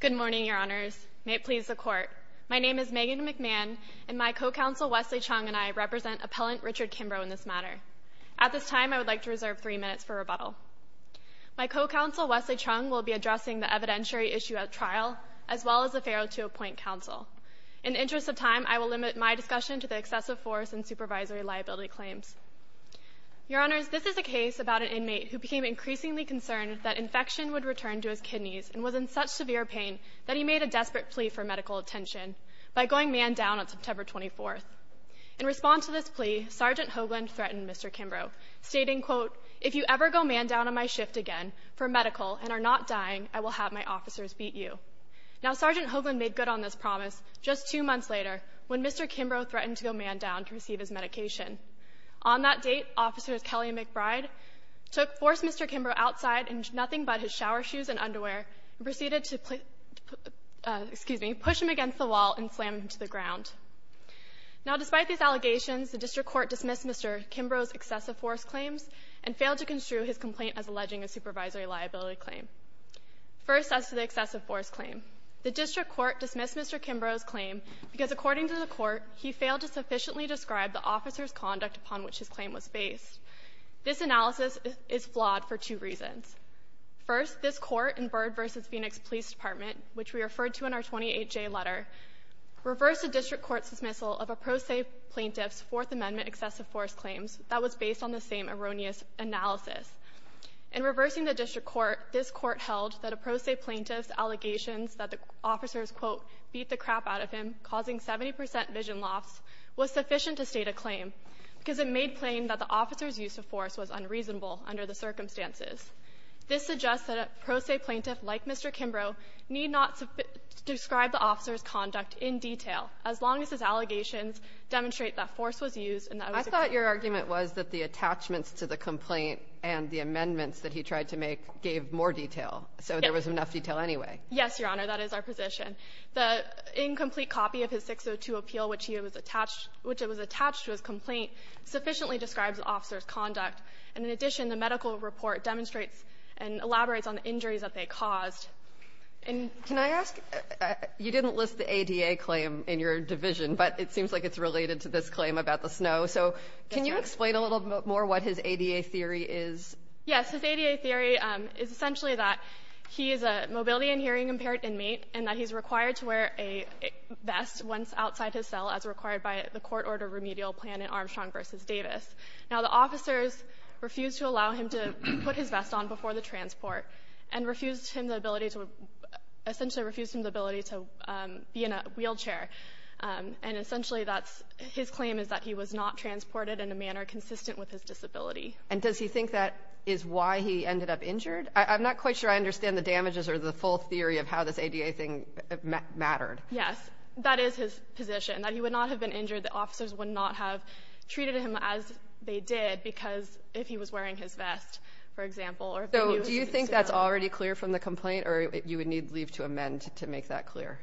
Good morning, Your Honors. May it please the Court, my name is Megan McMahon and my co-counsel Wesley Chung and I represent appellant Richard Kimbro in this matter. At this time, I would like to reserve three minutes for rebuttal. My co-counsel Wesley Chung will be addressing the evidentiary issue at trial as well as the feral to appoint counsel. In the interest of time, I will limit my discussion to the excessive force and supervisory liability claims. Your Honors, this is a case about an inmate who became increasingly concerned that infection would return to his kidneys and was in such severe pain that he made a desperate plea for medical attention by going man down on September 24th. In response to this plea, Sergeant Hoagland threatened Mr. Kimbro, stating, quote, if you ever go man down on my shift again for medical and are not dying, I will have my officers beat you. Now, Sergeant Hoagland made good on this promise just two months later when Mr. Kimbro threatened to go man down to receive his medication. On that date, officers Kelly McBride took force Mr. Kimbro outside and did nothing but his shower shoes and underwear and proceeded to, excuse me, push him against the wall and slam him to the ground. Now, despite these allegations, the District Court dismissed Mr. Kimbro's excessive force claims and failed to construe his complaint as alleging a supervisory liability claim. First, as to the excessive force claim, the District Court dismissed Mr. Kimbro's claim because, according to the court, he failed to sufficiently describe the officer's reasons. First, this court in Byrd v. Phoenix Police Department, which we referred to in our 28-J letter, reversed the District Court's dismissal of a pro se plaintiff's Fourth Amendment excessive force claims that was based on the same erroneous analysis. In reversing the District Court, this court held that a pro se plaintiff's allegations that the officers, quote, beat the crap out of him, causing 70% vision loss, was sufficient to state a claim because it made plain that the officer's use of force was unreasonable under the circumstances. This suggests that a pro se plaintiff like Mr. Kimbro need not describe the officer's conduct in detail, as long as his allegations demonstrate that force was used and that it was a complaint. I thought your argument was that the attachments to the complaint and the amendments that he tried to make gave more detail, so there was enough detail anyway. Yes, Your Honor. That is our position. The incomplete copy of his 602 appeal, which he was attached to as complaint, sufficiently describes the officer's conduct. And in addition, the medical report demonstrates and elaborates on the injuries that they caused. Can I ask? You didn't list the ADA claim in your division, but it seems like it's related to this claim about the snow. So can you explain a little bit more what his ADA theory is? Yes. His ADA theory is essentially that he is a mobility and hearing impaired inmate and that he's required to wear a vest once outside his cell, as required by the court order remedial plan in Armstrong v. Davis. Now, the officers refused to allow him to put his vest on before the transport and refused him the ability to, essentially refused him the ability to be in a wheelchair. And essentially that's, his claim is that he was not transported in a manner consistent with his disability. And does he think that is why he ended up injured? I'm not quite sure I understand the damages or the full theory of how this ADA thing mattered. Yes, that is his position, that he would not have been injured. The officers would not have treated him as they did because if he was wearing his vest, for example. So do you think that's already clear from the complaint or you would need leave to amend to make that clear?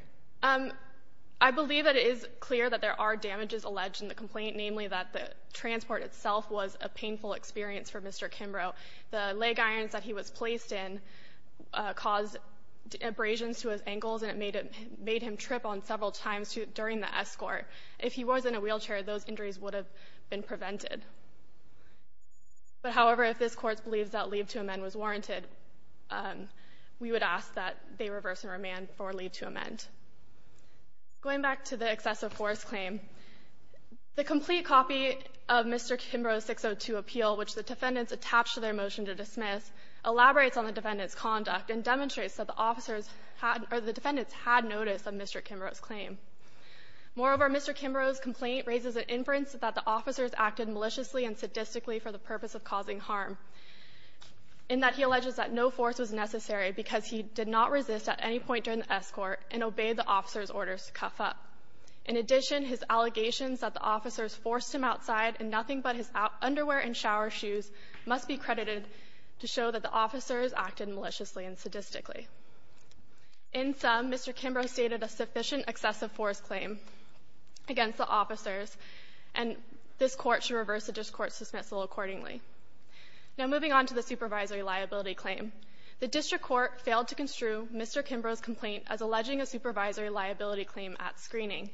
I believe it is clear that there are damages alleged in the complaint, namely that the transport itself was a painful experience for Mr. Kimbrough. The leg caused abrasions to his ankles and it made him trip on several times during the escort. If he was in a wheelchair, those injuries would have been prevented. But however, if this court believes that leave to amend was warranted, we would ask that they reverse and remand for leave to amend. Going back to the excessive force claim, the complete copy of Mr. Kimbrough's 602 appeal, which the defendants attached to their motion to dismiss, elaborates on the defendant's conduct and demonstrates that the defendants had notice of Mr. Kimbrough's claim. Moreover, Mr. Kimbrough's complaint raises an inference that the officers acted maliciously and sadistically for the purpose of causing harm, in that he alleges that no force was necessary because he did not resist at any point during the escort and obeyed the officer's orders to cuff up. In addition, his allegations that the officers forced him outside in nothing but his underwear and shower shoes must be credited to show that the officers acted maliciously and sadistically. In sum, Mr. Kimbrough stated a sufficient excessive force claim against the officers and this court should reverse the district court's dismissal accordingly. Now moving on to the supervisory liability claim, the district court failed to construe Mr. Kimbrough's complaint as alleging a supervisory liability claim at screening.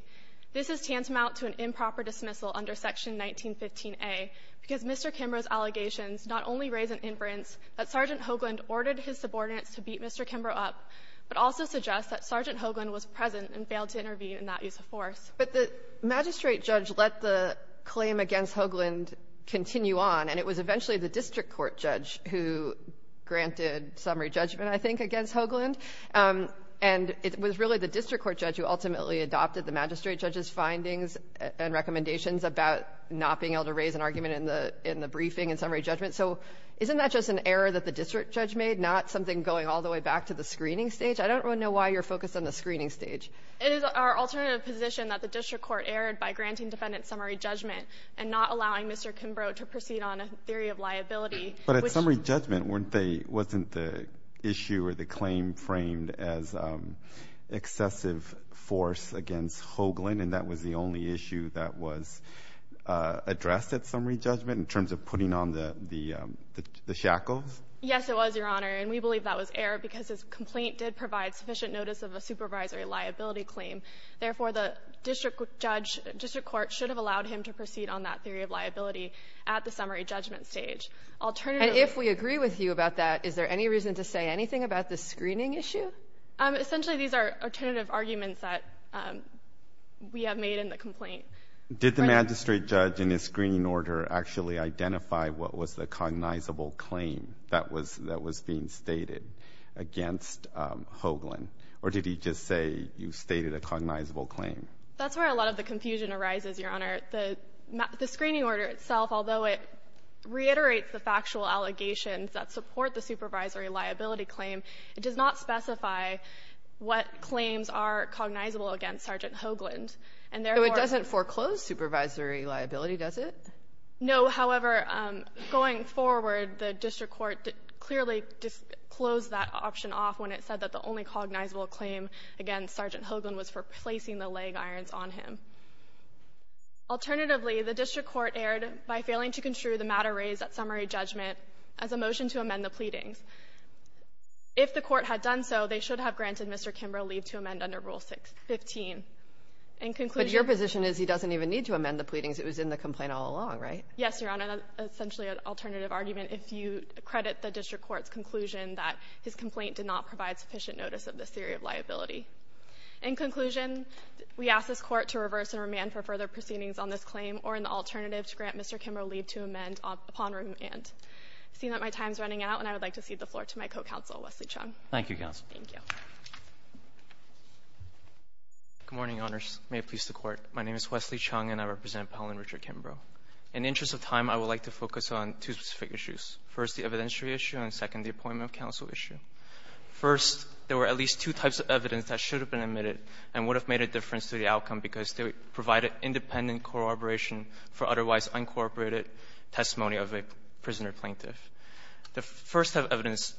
This is tantamount to an improper dismissal under Section 1915a because Mr. Kimbrough's allegations not only raise an inference that Sergeant Hoagland ordered his subordinates to beat Mr. Kimbrough up, but also suggest that Sergeant Hoagland was present and failed to intervene in that use of force. But the magistrate judge let the claim against Hoagland continue on, and it was eventually the district court judge who granted summary judgment, I think, against Hoagland. And it was really the district court judge who ultimately adopted the magistrate judge's findings and recommendations about not being able to raise an argument in the briefing and summary judgment. So isn't that just an error that the district judge made, not something going all the way back to the screening stage? I don't really know why you're focused on the screening stage. It is our alternative position that the district court erred by granting defendant summary judgment and not allowing Mr. Kimbrough to proceed on a theory of liability. But at summary judgment, weren't they, wasn't the issue or the claim framed as excessive force against Hoagland, and that was the only issue that was addressed at summary judgment in terms of putting on the shackles? Yes, it was, Your Honor. And we believe that was error because his complaint did provide sufficient notice of a supervisory liability claim. Therefore, the district judge, district court should have allowed him to proceed on that theory of liability at the summary judgment stage. Alternatively — And if we agree with you about that, is there any reason to say anything about the screening issue? Essentially, these are alternative arguments that we have made in the complaint. Did the magistrate judge in his screening order actually identify what was the cognizable claim that was being stated against Hoagland? Or did he just say you stated a cognizable claim? That's where a lot of the confusion arises, Your Honor. The screening order itself, although it reiterates the factual allegations that support the supervisory liability claim, it does not specify what claims are cognizable against Sergeant Hoagland. So it doesn't foreclose supervisory liability, does it? No. However, going forward, the district court clearly closed that option off when it said that the only cognizable claim against Sergeant Hoagland was for placing the leg irons on him. Alternatively, the district court erred by failing to construe the matter raised at If the court had done so, they should have granted Mr. Kimbrough leave to amend under Rule 615. In conclusion — But your position is he doesn't even need to amend the pleadings. It was in the complaint all along, right? Yes, Your Honor. That's essentially an alternative argument if you credit the district court's conclusion that his complaint did not provide sufficient notice of this theory of liability. In conclusion, we ask this Court to reverse and remand for further proceedings on this claim or an alternative to grant Mr. Kimbrough leave to amend upon remand. I see that my time is running out, and I would like to cede the floor to my co-counsel, Wesley Chung. Thank you, counsel. Thank you. Good morning, Your Honors. May it please the Court. My name is Wesley Chung, and I represent Pell and Richard Kimbrough. In the interest of time, I would like to focus on two specific issues, first the evidentiary issue and, second, the appointment of counsel issue. First, there were at least two types of evidence that should have been admitted and would have made a difference to the outcome because they provided independent corroboration for otherwise uncorroborated testimony of a prisoner plaintiff. The first type of evidence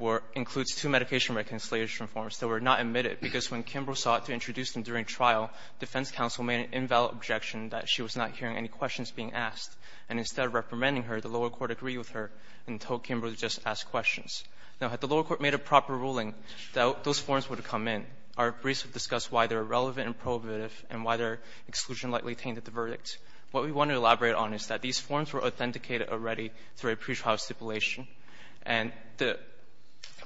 were – includes two medication reconciliation forms that were not admitted because when Kimbrough sought to introduce them during trial, defense counsel made an invalid objection that she was not hearing any questions being asked, and instead of reprimanding her, the lower court agreed with her and told Kimbrough to just ask questions. Now, had the lower court made a proper ruling, those forms would have come in. Our briefs have discussed why they are relevant and prohibitive and why their exclusion likely tainted the verdict. What we want to elaborate on is that these forms were authenticated already through a pretrial stipulation, and the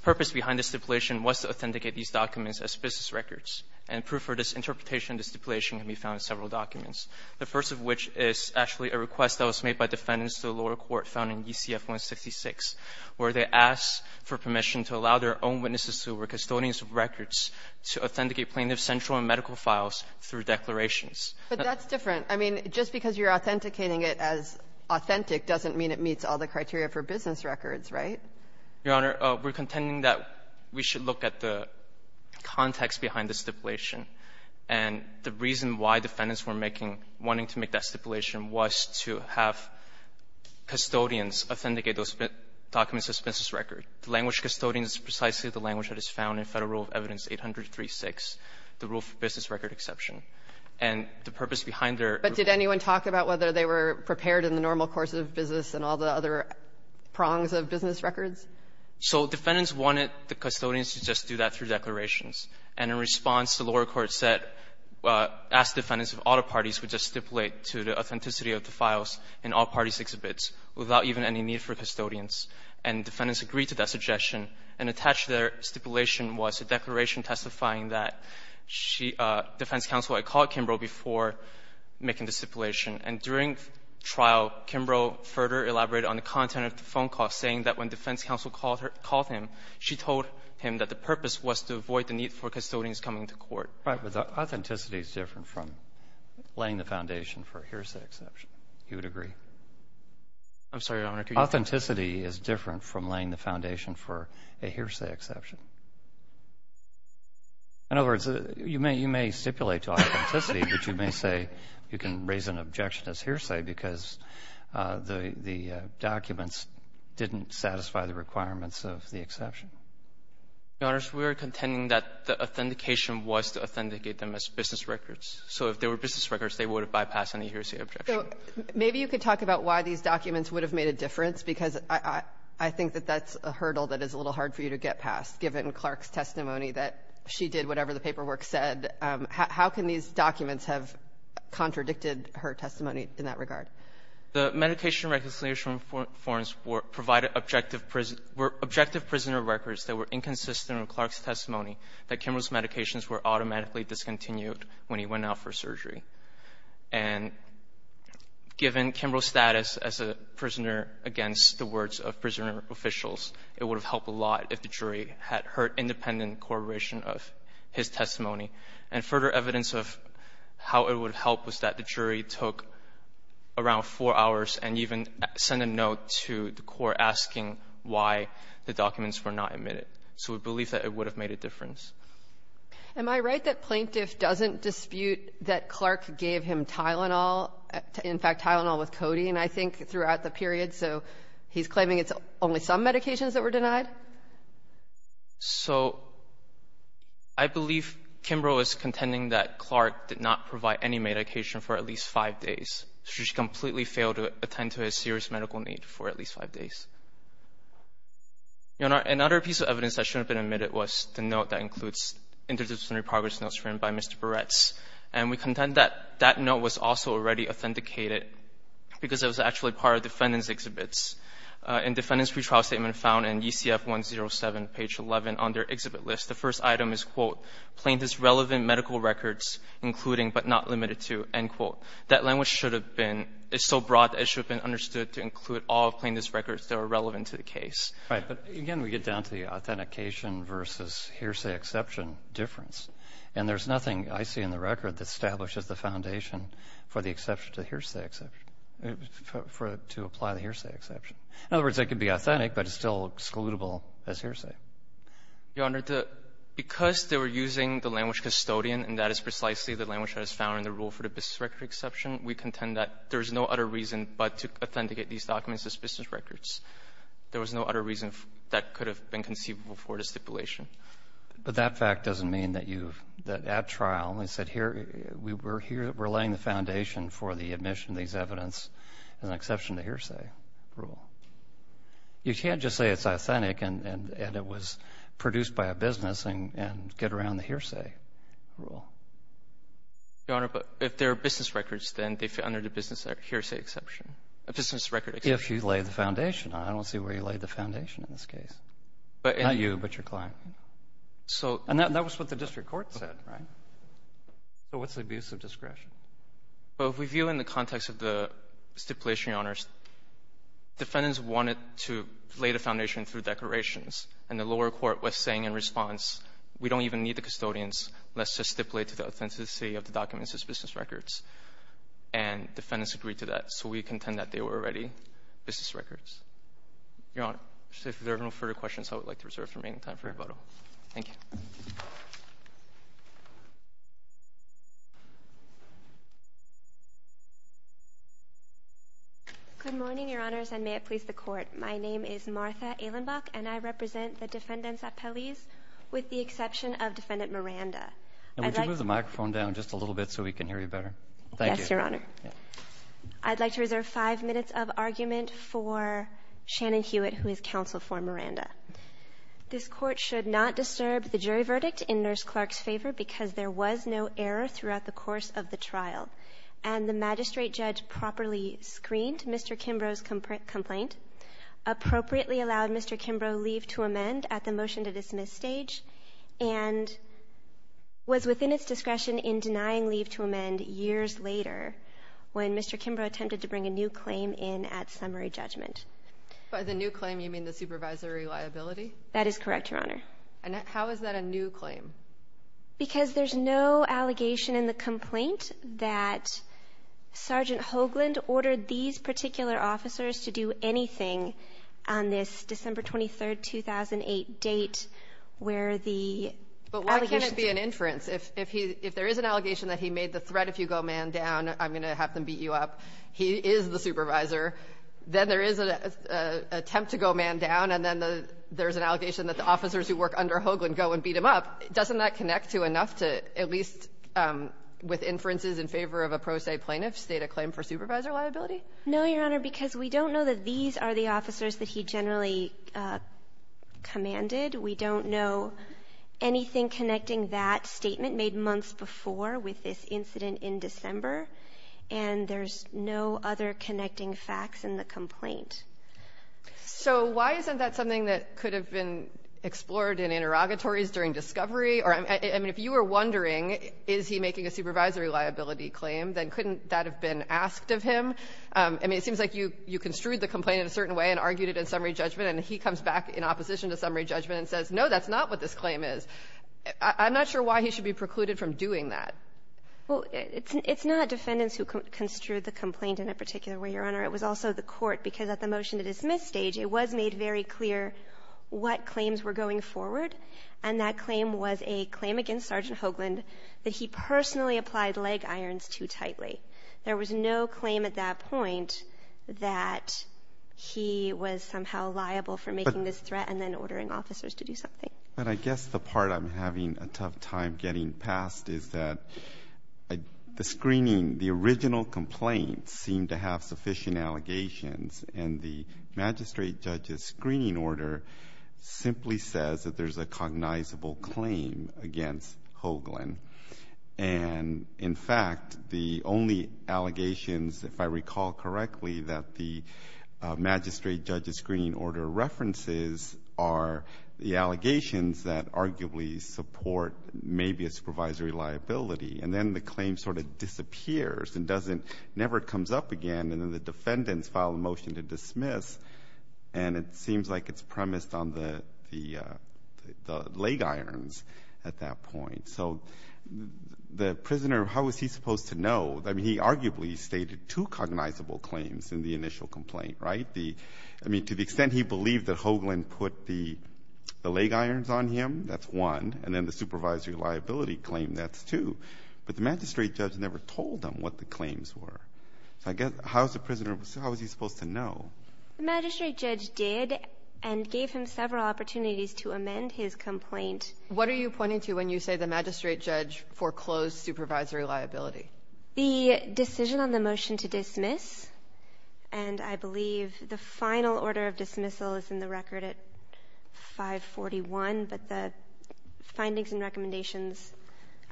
purpose behind the stipulation was to authenticate these documents as business records, and proof for this interpretation of the stipulation can be found in several documents, the first of which is actually a request that was made by defendants to the lower court found in ECF-166, where they asked for permission to allow their own witnesses who were custodians of records to authenticate plaintiff's central and medical files through declarations. But that's different. I mean, just because you're authenticating it as authentic doesn't mean it meets all the criteria for business records, right? Your Honor, we're contending that we should look at the context behind the stipulation. And the reason why defendants were making – wanting to make that stipulation was to have custodians authenticate those documents as business records. The language custodian is precisely the language that is found in Federal Rule of Evidence 803-6, the rule for business record exception. And the purpose behind their – But did anyone talk about whether they were prepared in the normal course of business and all the other prongs of business records? So defendants wanted the custodians to just do that through declarations. And in response, the lower court said – asked defendants if all the parties would just stipulate to the authenticity of the files in all parties' exhibits without even any need for custodians. And defendants agreed to that suggestion. And attached to their stipulation was a declaration testifying that she – defense counsel had called Kimbrough before making the stipulation. And during trial, Kimbrough further elaborated on the content of the phone call, saying that when defense counsel called her – called him, she told him that the purpose was to avoid the need for custodians coming to court. But the authenticity is different from laying the foundation for a hearsay exception. You would agree? I'm sorry, Your Honor, can you – Authenticity is different from laying the foundation for a hearsay exception. In other words, you may stipulate to authenticity, but you may say you can raise an objection as hearsay because the documents didn't satisfy the requirements of the exception. Your Honors, we are contending that the authentication was to authenticate them as business records. So if they were business records, they would have bypassed any hearsay objection. So maybe you could talk about why these documents would have made a difference, because I think that that's a hurdle that is a little hard for you to get past, given Clark's testimony that she did whatever the paperwork said. How can these documents have contradicted her testimony in that regard? The medication recognition forms were – provided objective – were objective prisoner records that were inconsistent with Clark's testimony that Kimbrough's medications were automatically discontinued when he went out for surgery. And given Kimbrough's status as a prisoner against the words of prisoner officials, it would have helped a lot if the jury had heard independent corroboration of his testimony. And further evidence of how it would have helped was that the jury took around four hours and even sent a note to the court asking why the documents were not admitted. So we believe that it would have made a difference. Am I right that Plaintiff doesn't dispute that Clark gave him Tylenol, in fact, Tylenol with codeine, I think, throughout the period? So he's claiming it's only some medications that were denied? So I believe Kimbrough is contending that Clark did not provide any medication for at least five days. She completely failed to attend to his serious medical need for at least five days. Your Honor, another piece of evidence that shouldn't have been admitted was the note that includes interdisciplinary progress notes written by Mr. Barretts. And we contend that that note was also already authenticated because it was actually part of defendant's exhibits. In defendant's pretrial statement found in UCF 107, page 11 on their exhibit list, the first item is, quote, Plaintiff's relevant medical records including but not limited to, end quote. That language should have been, it's so broad, it should have been understood to include all Plaintiff's records that are relevant to the case. Right. But again, we get down to the authentication versus hearsay exception difference. And there's nothing I see in the record that establishes the foundation for the exception to hearsay exception, to apply the hearsay exception. In other words, it could be authentic, but it's still excludable as hearsay. Your Honor, because they were using the language custodian, and that is precisely the language that is found in the rule for the business record exception, we contend that there is no other reason but to authenticate these documents as business records. There was no other reason that could have been conceivable for the stipulation. But that fact doesn't mean that you, that at trial, they said here, we're laying the foundation for the admission of these evidence as an exception to hearsay rule. You can't just say it's authentic and it was produced by a business and get around the hearsay rule. Your Honor, but if they're business records, then they fit under the business hearsay exception, business record exception. If you lay the foundation. I don't see where you laid the foundation in this case. Not you, but your client. So and that was what the district court said, right? So what's the abuse of discretion? Well, if we view in the context of the stipulation, Your Honor, defendants wanted to lay the foundation through declarations. And the lower court was saying in response, we don't even need the custodians. Let's just stipulate to the authenticity of the documents as business records. And defendants agreed to that. So we contend that they were already business records. Your Honor, if there are no further questions, I would like to reserve for making time for rebuttal. Thank you. Good morning, Your Honors, and may it please the Court. My name is Martha Ehlenbach, and I represent the defendants at Pelley's with the exception of defendant Miranda. And would you move the microphone down just a little bit so we can hear you better? Yes, Your Honor. I'd like to reserve five minutes of argument for Shannon Hewitt, who is counsel for Miranda. This court should not disturb the jury verdict in Nurse Clark's favor because there was no error throughout the course of the trial. And the magistrate judge properly screened Mr. Kimbrough's complaint, appropriately allowed Mr. Kimbrough leave to amend at the motion-to-dismiss stage, and was within its discretion in denying leave to amend years later when Mr. Kimbrough attempted to bring a new claim in at summary judgment. By the new claim, you mean the supervisory liability? That is correct, Your Honor. And how is that a new claim? Because there's no allegation in the complaint that Sergeant Hoagland ordered these particular officers to do anything on this December 23, 2008 date where the allegations But why can't it be an inference? If he — if there is an allegation that he made the threat, if you go man down, I'm going to have them beat you up, he is the supervisor, then there is an attempt to go man down, and then there's an allegation that the officers who work under Hoagland go and beat him up, doesn't that connect to enough to at least, with inferences in favor of a pro se plaintiff, state a claim for supervisor liability? No, Your Honor, because we don't know that these are the officers that he generally commanded. We don't know anything connecting that statement made months before with this incident in December, and there's no other connecting facts in the complaint. So why isn't that something that could have been explored in interrogatories during discovery? Or, I mean, if you were wondering, is he making a supervisory liability claim, then couldn't that have been asked of him? I mean, it seems like you construed the complaint in a certain way and argued it in summary judgment, and he comes back in opposition to summary judgment and says, no, that's not what this claim is. I'm not sure why he should be precluded from doing that. But I guess the part I'm having a tough time getting past is that the screening, the original complaint seemed to have sufficient allegations, and the magistrate judge's screening order simply says that there's a cognizable claim against Hoagland. And in fact, the only allegations, if I recall correctly, that the magistrate judge's screening order references are the allegations that arguably support maybe a supervisory liability. And then the claim sort of disappears and doesn't, never comes up again. And then the defendants file a motion to dismiss. And it seems like it's premised on the leg irons at that point. So the prisoner, how was he supposed to know? I mean, he arguably stated two cognizable claims in the initial complaint, right? I mean, to the extent he believed that Hoagland put the leg irons on him, that's one. And then the supervisory liability claim, that's two. But the magistrate judge never told him what the claims were. So I guess, how's the prisoner, how was he supposed to know? The magistrate judge did and gave him several opportunities to amend his complaint. What are you pointing to when you say the magistrate judge foreclosed supervisory liability? The decision on the motion to dismiss, and I believe the final order of dismissal is in the record at 541. But the findings and recommendations,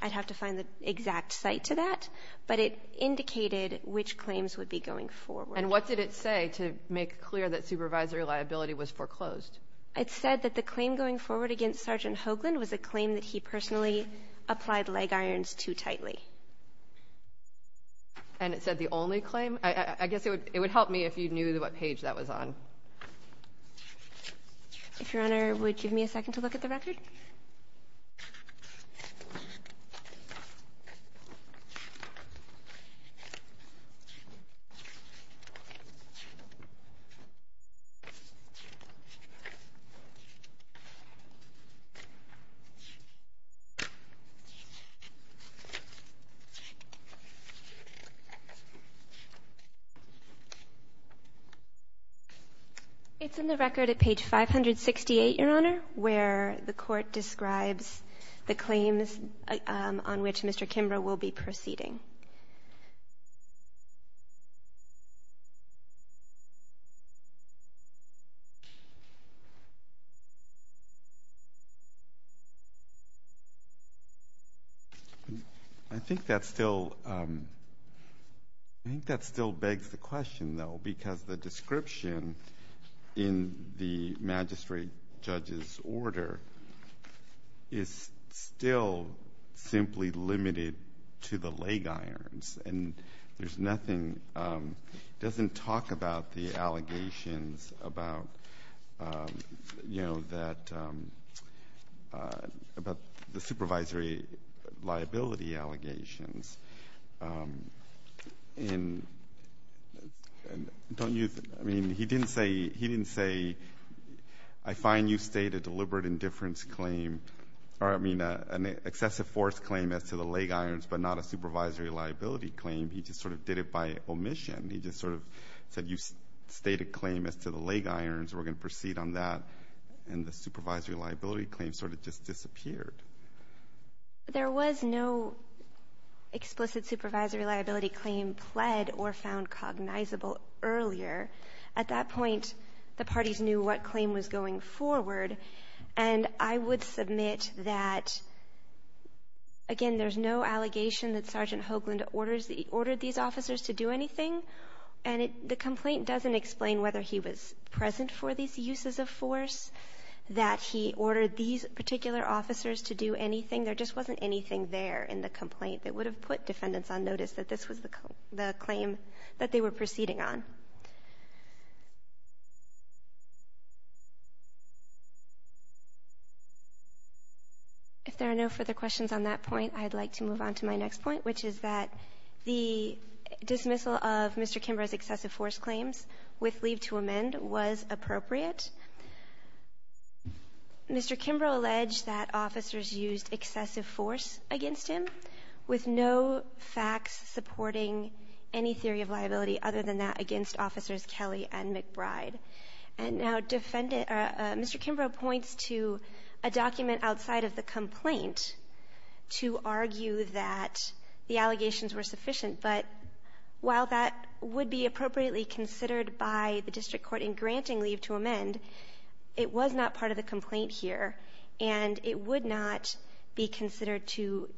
I'd have to find the exact site to that. But it indicated which claims would be going forward. And what did it say to make clear that supervisory liability was foreclosed? It said that the claim going forward against Sergeant Hoagland was a claim that he personally applied leg irons too tightly. And it said the only claim? I guess it would help me if you knew what page that was on. If your honor would give me a second to look at the record. It's in the record at page 568, your honor, where the court describes the claims on which Mr. Kimbrough will be proceeding. I think that still begs the question, though, because the description in the magistrate judge's order is still simply limited to the leg irons. And there's nothing, it doesn't talk about the allegations about the supervisory liability allegations. And he didn't say, I find you state a deliberate indifference claim. Or I mean an excessive force claim as to the leg irons, but not a supervisory liability claim. He just sort of did it by omission. He just sort of said you state a claim as to the leg irons, we're going to proceed on that. And the supervisory liability claim sort of just disappeared. There was no explicit supervisory liability claim pled or found cognizable earlier. At that point, the parties knew what claim was going forward. And I would submit that, again, there's no allegation that Sergeant Hoagland ordered these officers to do anything. And the complaint doesn't explain whether he was present for these uses of force. That he ordered these particular officers to do anything. There just wasn't anything there in the complaint that would have put defendants on notice that this was the claim that they were proceeding on. If there are no further questions on that point, I'd like to move on to my next point. Which is that the dismissal of Mr. Kimbrough's excessive force claims with leave to amend was appropriate. Mr. Kimbrough alleged that officers used excessive force against him. With no facts supporting any theory of liability other than that against officers Kelly and McBride. And now Mr. Kimbrough points to a document outside of the complaint to argue that the allegations were sufficient. But while that would be appropriately considered by the district court in granting leave to amend, it was not part of the complaint here. And it would not be considered to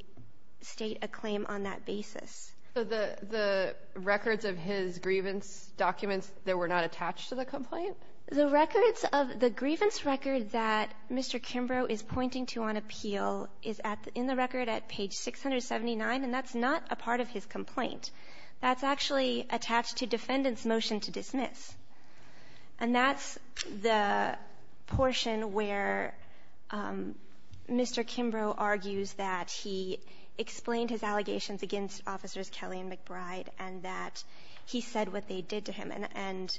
state a claim on that basis. So the records of his grievance documents, they were not attached to the complaint? The records of the grievance record that Mr. Kimbrough is pointing to on appeal is in the record at page 679, and that's not a part of his complaint. That's actually attached to defendant's motion to dismiss. And that's the portion where Mr. Kimbrough argues that he explained his allegations against officers Kelly and McBride. And that he said what they did to him. And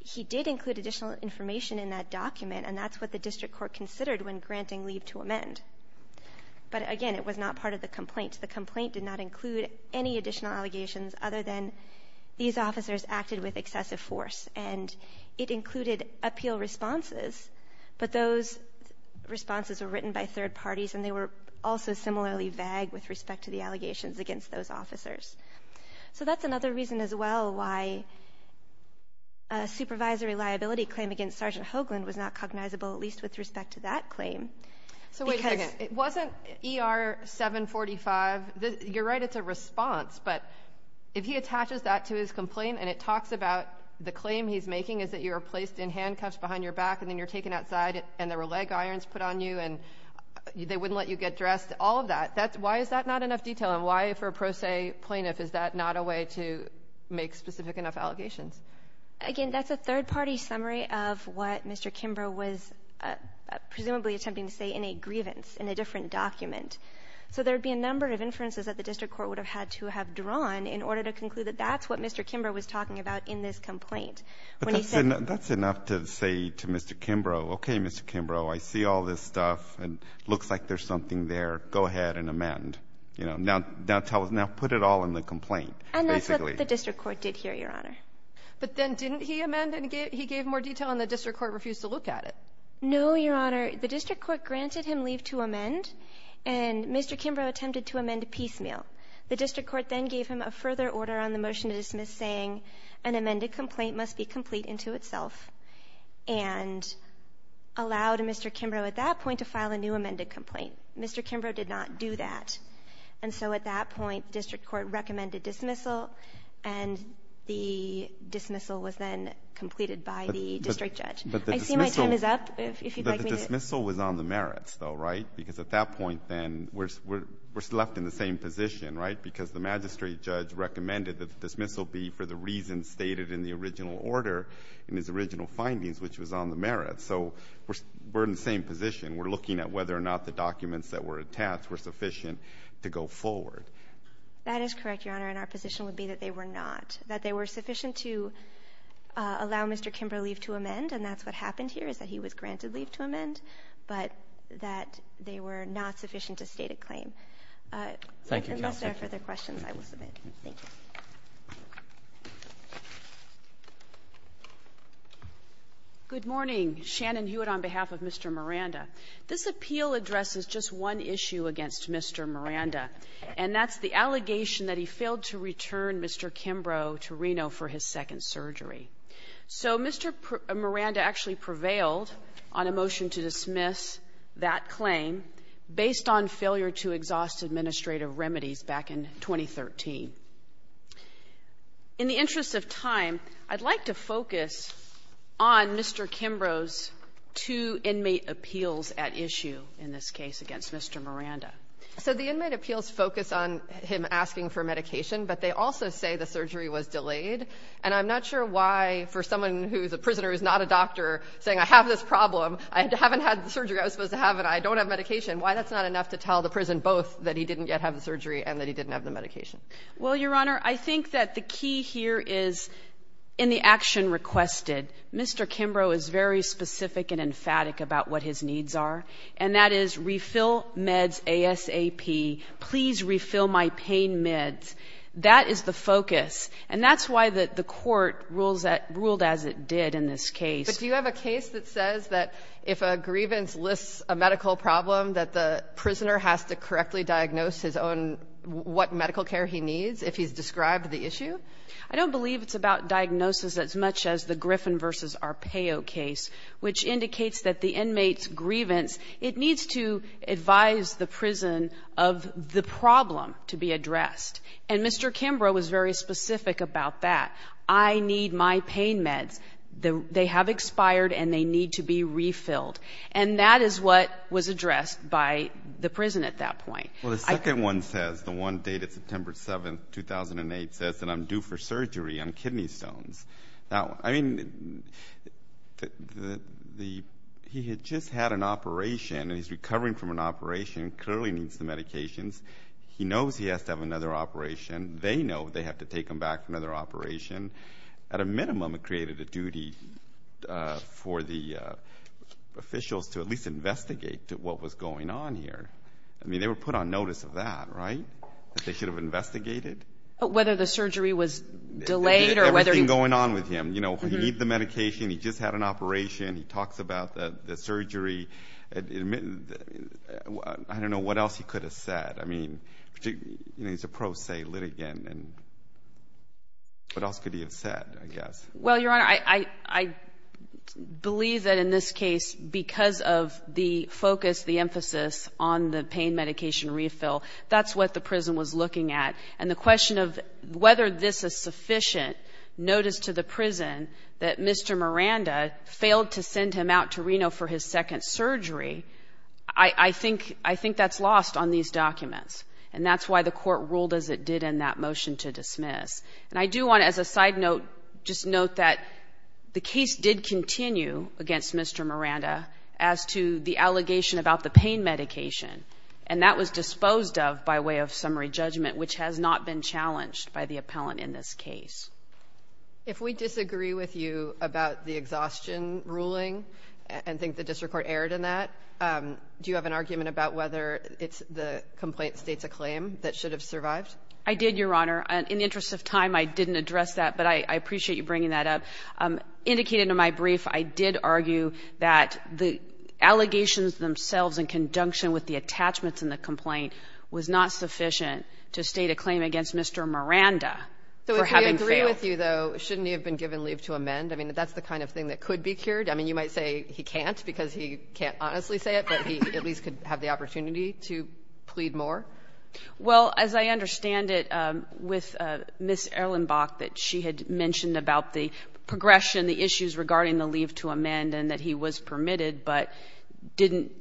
he did include additional information in that document. And that's what the district court considered when granting leave to amend. But again, it was not part of the complaint. The complaint did not include any additional allegations other than these officers acted with excessive force. And it included appeal responses, but those responses were written by third parties. And they were also similarly vague with respect to the allegations against those officers. So that's another reason as well why a supervisory liability claim against Sergeant Hoagland was not cognizable, at least with respect to that claim. So wait a second, it wasn't ER 745, you're right, it's a response. But if he attaches that to his complaint and it talks about the claim he's making is that you were placed in handcuffs behind your back and then you're taken outside and there were leg irons put on you and they wouldn't let you get dressed, all of that. Why is that not enough detail and why for a pro se plaintiff is that not a way to make specific enough allegations? Again, that's a third party summary of what Mr. Kimbrough was presumably attempting to say in a grievance, in a different document. So there'd be a number of inferences that the district court would have had to have drawn in order to conclude that that's what Mr. Kimbrough was talking about in this complaint. When he said- That's enough to say to Mr. Kimbrough, okay, Mr. Kimbrough, I see all this stuff and looks like there's something there, go ahead and amend, now put it all in the complaint, basically. And that's what the district court did here, Your Honor. But then didn't he amend and he gave more detail and the district court refused to look at it? No, Your Honor. The district court granted him leave to amend and Mr. Kimbrough attempted to amend piecemeal. The district court then gave him a further order on the motion to dismiss saying, an amended complaint must be complete into itself, and allowed Mr. Kimbrough at that point to file a new amended complaint. Mr. Kimbrough did not do that. And so at that point, district court recommended dismissal and the dismissal was then completed by the district judge. I see my time is up, if you'd like me to- But the dismissal was on the merits though, right? Because at that point then, we're left in the same position, right? Because the magistrate judge recommended that the dismissal be for the reasons stated in the original order, in his original findings, which was on the merits. So we're in the same position, we're looking at whether or not the documents that were attached were sufficient to go forward. That is correct, Your Honor, and our position would be that they were not. That they were sufficient to allow Mr. Kimbrough leave to amend, and that's what happened here, is that he was granted leave to amend. But that they were not sufficient to state a claim. Unless there are further questions, I will submit. Thank you. Good morning, Shannon Hewitt on behalf of Mr. Miranda. This appeal addresses just one issue against Mr. Miranda. And that's the allegation that he failed to return Mr. Kimbrough to Reno for his second surgery. So Mr. Miranda actually prevailed on a motion to dismiss that claim based on failure to exhaust administrative remedies back in 2013. In the interest of time, I'd like to focus on Mr. Kimbrough's two inmate appeals at issue in this case against Mr. Miranda. So the inmate appeals focus on him asking for medication, but they also say the surgery was delayed. And I'm not sure why, for someone who's a prisoner who's not a doctor, saying I have this problem. I haven't had the surgery I was supposed to have, and I don't have medication. Why that's not enough to tell the prison both that he didn't yet have the surgery and that he didn't have the medication? Well, Your Honor, I think that the key here is in the action requested. Mr. Kimbrough is very specific and emphatic about what his needs are. And that is refill meds ASAP, please refill my pain meds. That is the focus. And that's why the court ruled as it did in this case. But do you have a case that says that if a grievance lists a medical problem, that the prisoner has to correctly diagnose what medical care he needs if he's described the issue? I don't believe it's about diagnosis as much as the Griffin versus Arpaio case, which indicates that the inmate's grievance, it needs to advise the prison of the problem to be addressed. And Mr. Kimbrough was very specific about that. I need my pain meds, they have expired and they need to be refilled. And that is what was addressed by the prison at that point. Well, the second one says, the one dated September 7th, 2008, says that I'm due for surgery on kidney stones. Now, I mean, he had just had an operation and he's recovering from an operation, clearly needs the medications. He knows he has to have another operation. They know they have to take him back for another operation. At a minimum, it created a duty for the officials to at least investigate what was going on here. I mean, they were put on notice of that, right? That they should have investigated? Whether the surgery was delayed or whether he- What's been going on with him? You know, he needs the medication, he just had an operation, he talks about the surgery. I don't know what else he could have said. I mean, you know, he's a pro se litigant and what else could he have said, I guess? Well, Your Honor, I believe that in this case, because of the focus, the emphasis on the pain medication refill, that's what the prison was looking at. And the question of whether this is sufficient notice to the prison that Mr. Miranda failed to send him out to Reno for his second surgery, I think that's lost on these documents. And that's why the court ruled as it did in that motion to dismiss. And I do want to, as a side note, just note that the case did continue against Mr. Miranda as to the allegation about the pain medication. And that was disposed of by way of summary judgment, which has not been challenged by the appellant in this case. If we disagree with you about the exhaustion ruling and think the district court erred in that, do you have an argument about whether it's the complaint states a claim that should have survived? I did, Your Honor. In the interest of time, I didn't address that, but I appreciate you bringing that up. Indicated in my brief, I did argue that the allegations themselves in conjunction with the attachments in the complaint was not sufficient to state a claim against Mr. Miranda. So if we agree with you, though, shouldn't he have been given leave to amend? I mean, that's the kind of thing that could be cured. I mean, you might say he can't because he can't honestly say it, but he at least could have the opportunity to plead more. Well, as I understand it, with Ms. Erlenbach, that she had mentioned about the progression, the issues regarding the leave to amend, and that he was permitted, but didn't,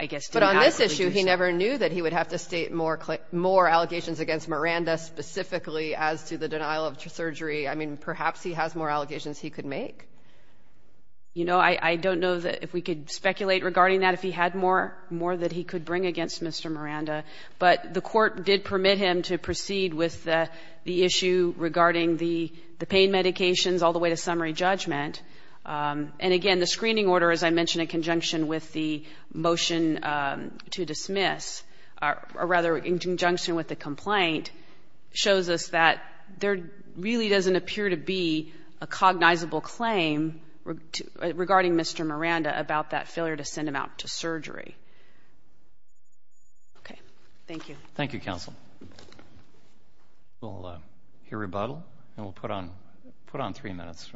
I guess, But on this issue, he never knew that he would have to state more allegations against Miranda, specifically as to the denial of surgery. I mean, perhaps he has more allegations he could make. You know, I don't know if we could speculate regarding that, if he had more that he could bring against Mr. Miranda. But the court did permit him to proceed with the issue regarding the pain medications, all the way to summary judgment. And again, the screening order, as I mentioned, in conjunction with the motion to dismiss, or rather, in conjunction with the complaint, shows us that there really doesn't appear to be a cognizable claim regarding Mr. Miranda about that failure to send him out to surgery. Okay, thank you. Thank you, counsel. We'll hear rebuttal, and we'll put on three minutes.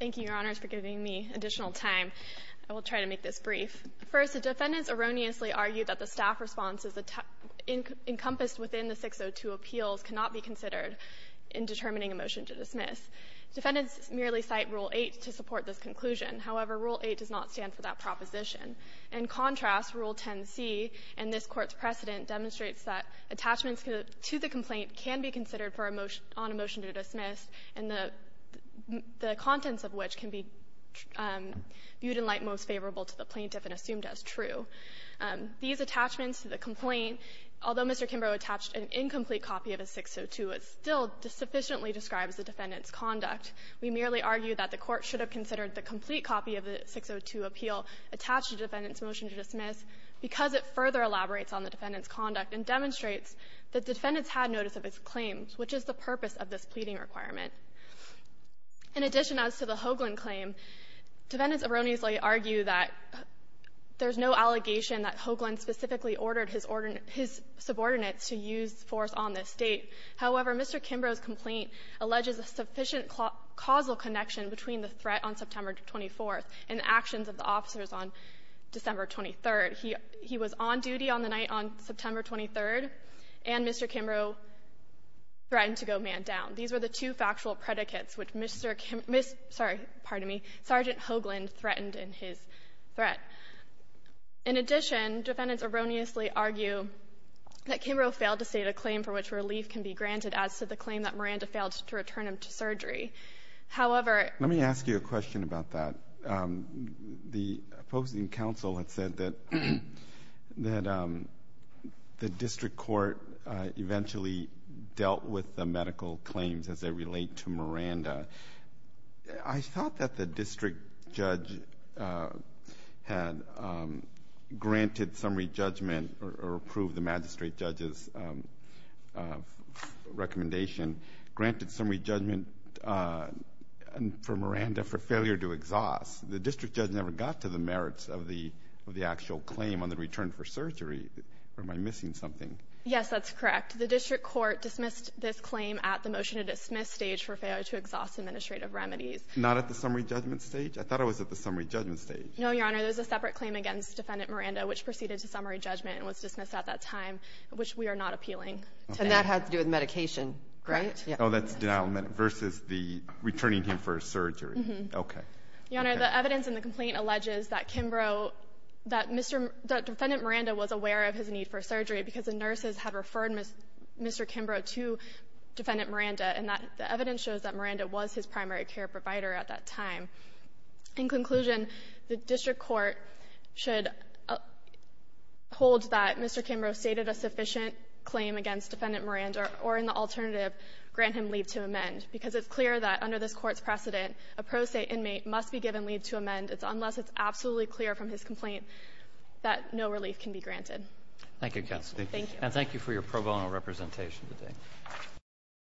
Thank you, your honors, for giving me additional time. I will try to make this brief. First, the defendants erroneously argued that the staff response is encompassed within the 602 appeals cannot be considered in determining a motion to dismiss. Defendants merely cite Rule 8 to support this conclusion. However, Rule 8 does not stand for that proposition. In contrast, Rule 10c in this court's precedent demonstrates that attachments to the complaint can be considered on a motion to dismiss, and the contents of which can be viewed in light most favorable to the plaintiff and assumed as true. These attachments to the complaint, although Mr. Kimbrough attached an incomplete copy of his 602, it still sufficiently describes the defendant's conduct. We merely argue that the court should have considered the complete copy of the 602 appeal attached to the defendant's motion to dismiss because it further elaborates on the defendant's conduct and demonstrates that defendants had notice of his claims, which is the purpose of this pleading requirement. In addition, as to the Hoagland claim, defendants erroneously argue that there's no allegation that Hoagland specifically ordered his subordinates to use force on this state. However, Mr. Kimbrough's complaint alleges a sufficient causal connection between the threat on September 24th and the actions of the officers on December 23rd. He was on duty on the night on September 23rd, and Mr. Kimbrough threatened to go man down. These were the two factual predicates which Mr. Kimbrough, sorry, pardon me, Sergeant Hoagland threatened in his threat. In addition, defendants erroneously argue that Kimbrough failed to state a claim for which relief can be granted as to the claim that Miranda failed to return him to surgery. However, let me ask you a question about that. The opposing counsel had said that the district court eventually dealt with the medical claims as they relate to Miranda. I thought that the district judge had granted summary judgment or approved the magistrate judge's recommendation, granted summary judgment for Miranda for failure to exhaust. The district judge never got to the merits of the actual claim on the return for surgery, or am I missing something? Yes, that's correct. The district court dismissed this claim at the motion to dismiss stage for failure to exhaust administrative remedies. Not at the summary judgment stage? I thought it was at the summary judgment stage. No, Your Honor. There's a separate claim against Defendant Miranda, which proceeded to summary judgment and was dismissed at that time, which we are not appealing. And that had to do with medication, right? Oh, that's denial versus the returning him for surgery. Okay. Your Honor, the evidence in the complaint alleges that Kimbrough, that Mr. Defendant Miranda was aware of his need for surgery because the nurses had referred Mr. Kimbrough to Defendant Miranda, and the evidence shows that Miranda was his primary care provider at that time. In conclusion, the district court should hold that Mr. Kimbrough stated a sufficient claim against Defendant Miranda, or in the alternative, grant him leave to amend. Because it's clear that under this court's precedent, a pro se inmate must be given leave to amend unless it's absolutely clear from his complaint. That no relief can be granted. Thank you, Counsel. Thank you. And thank you for your pro bono representation today.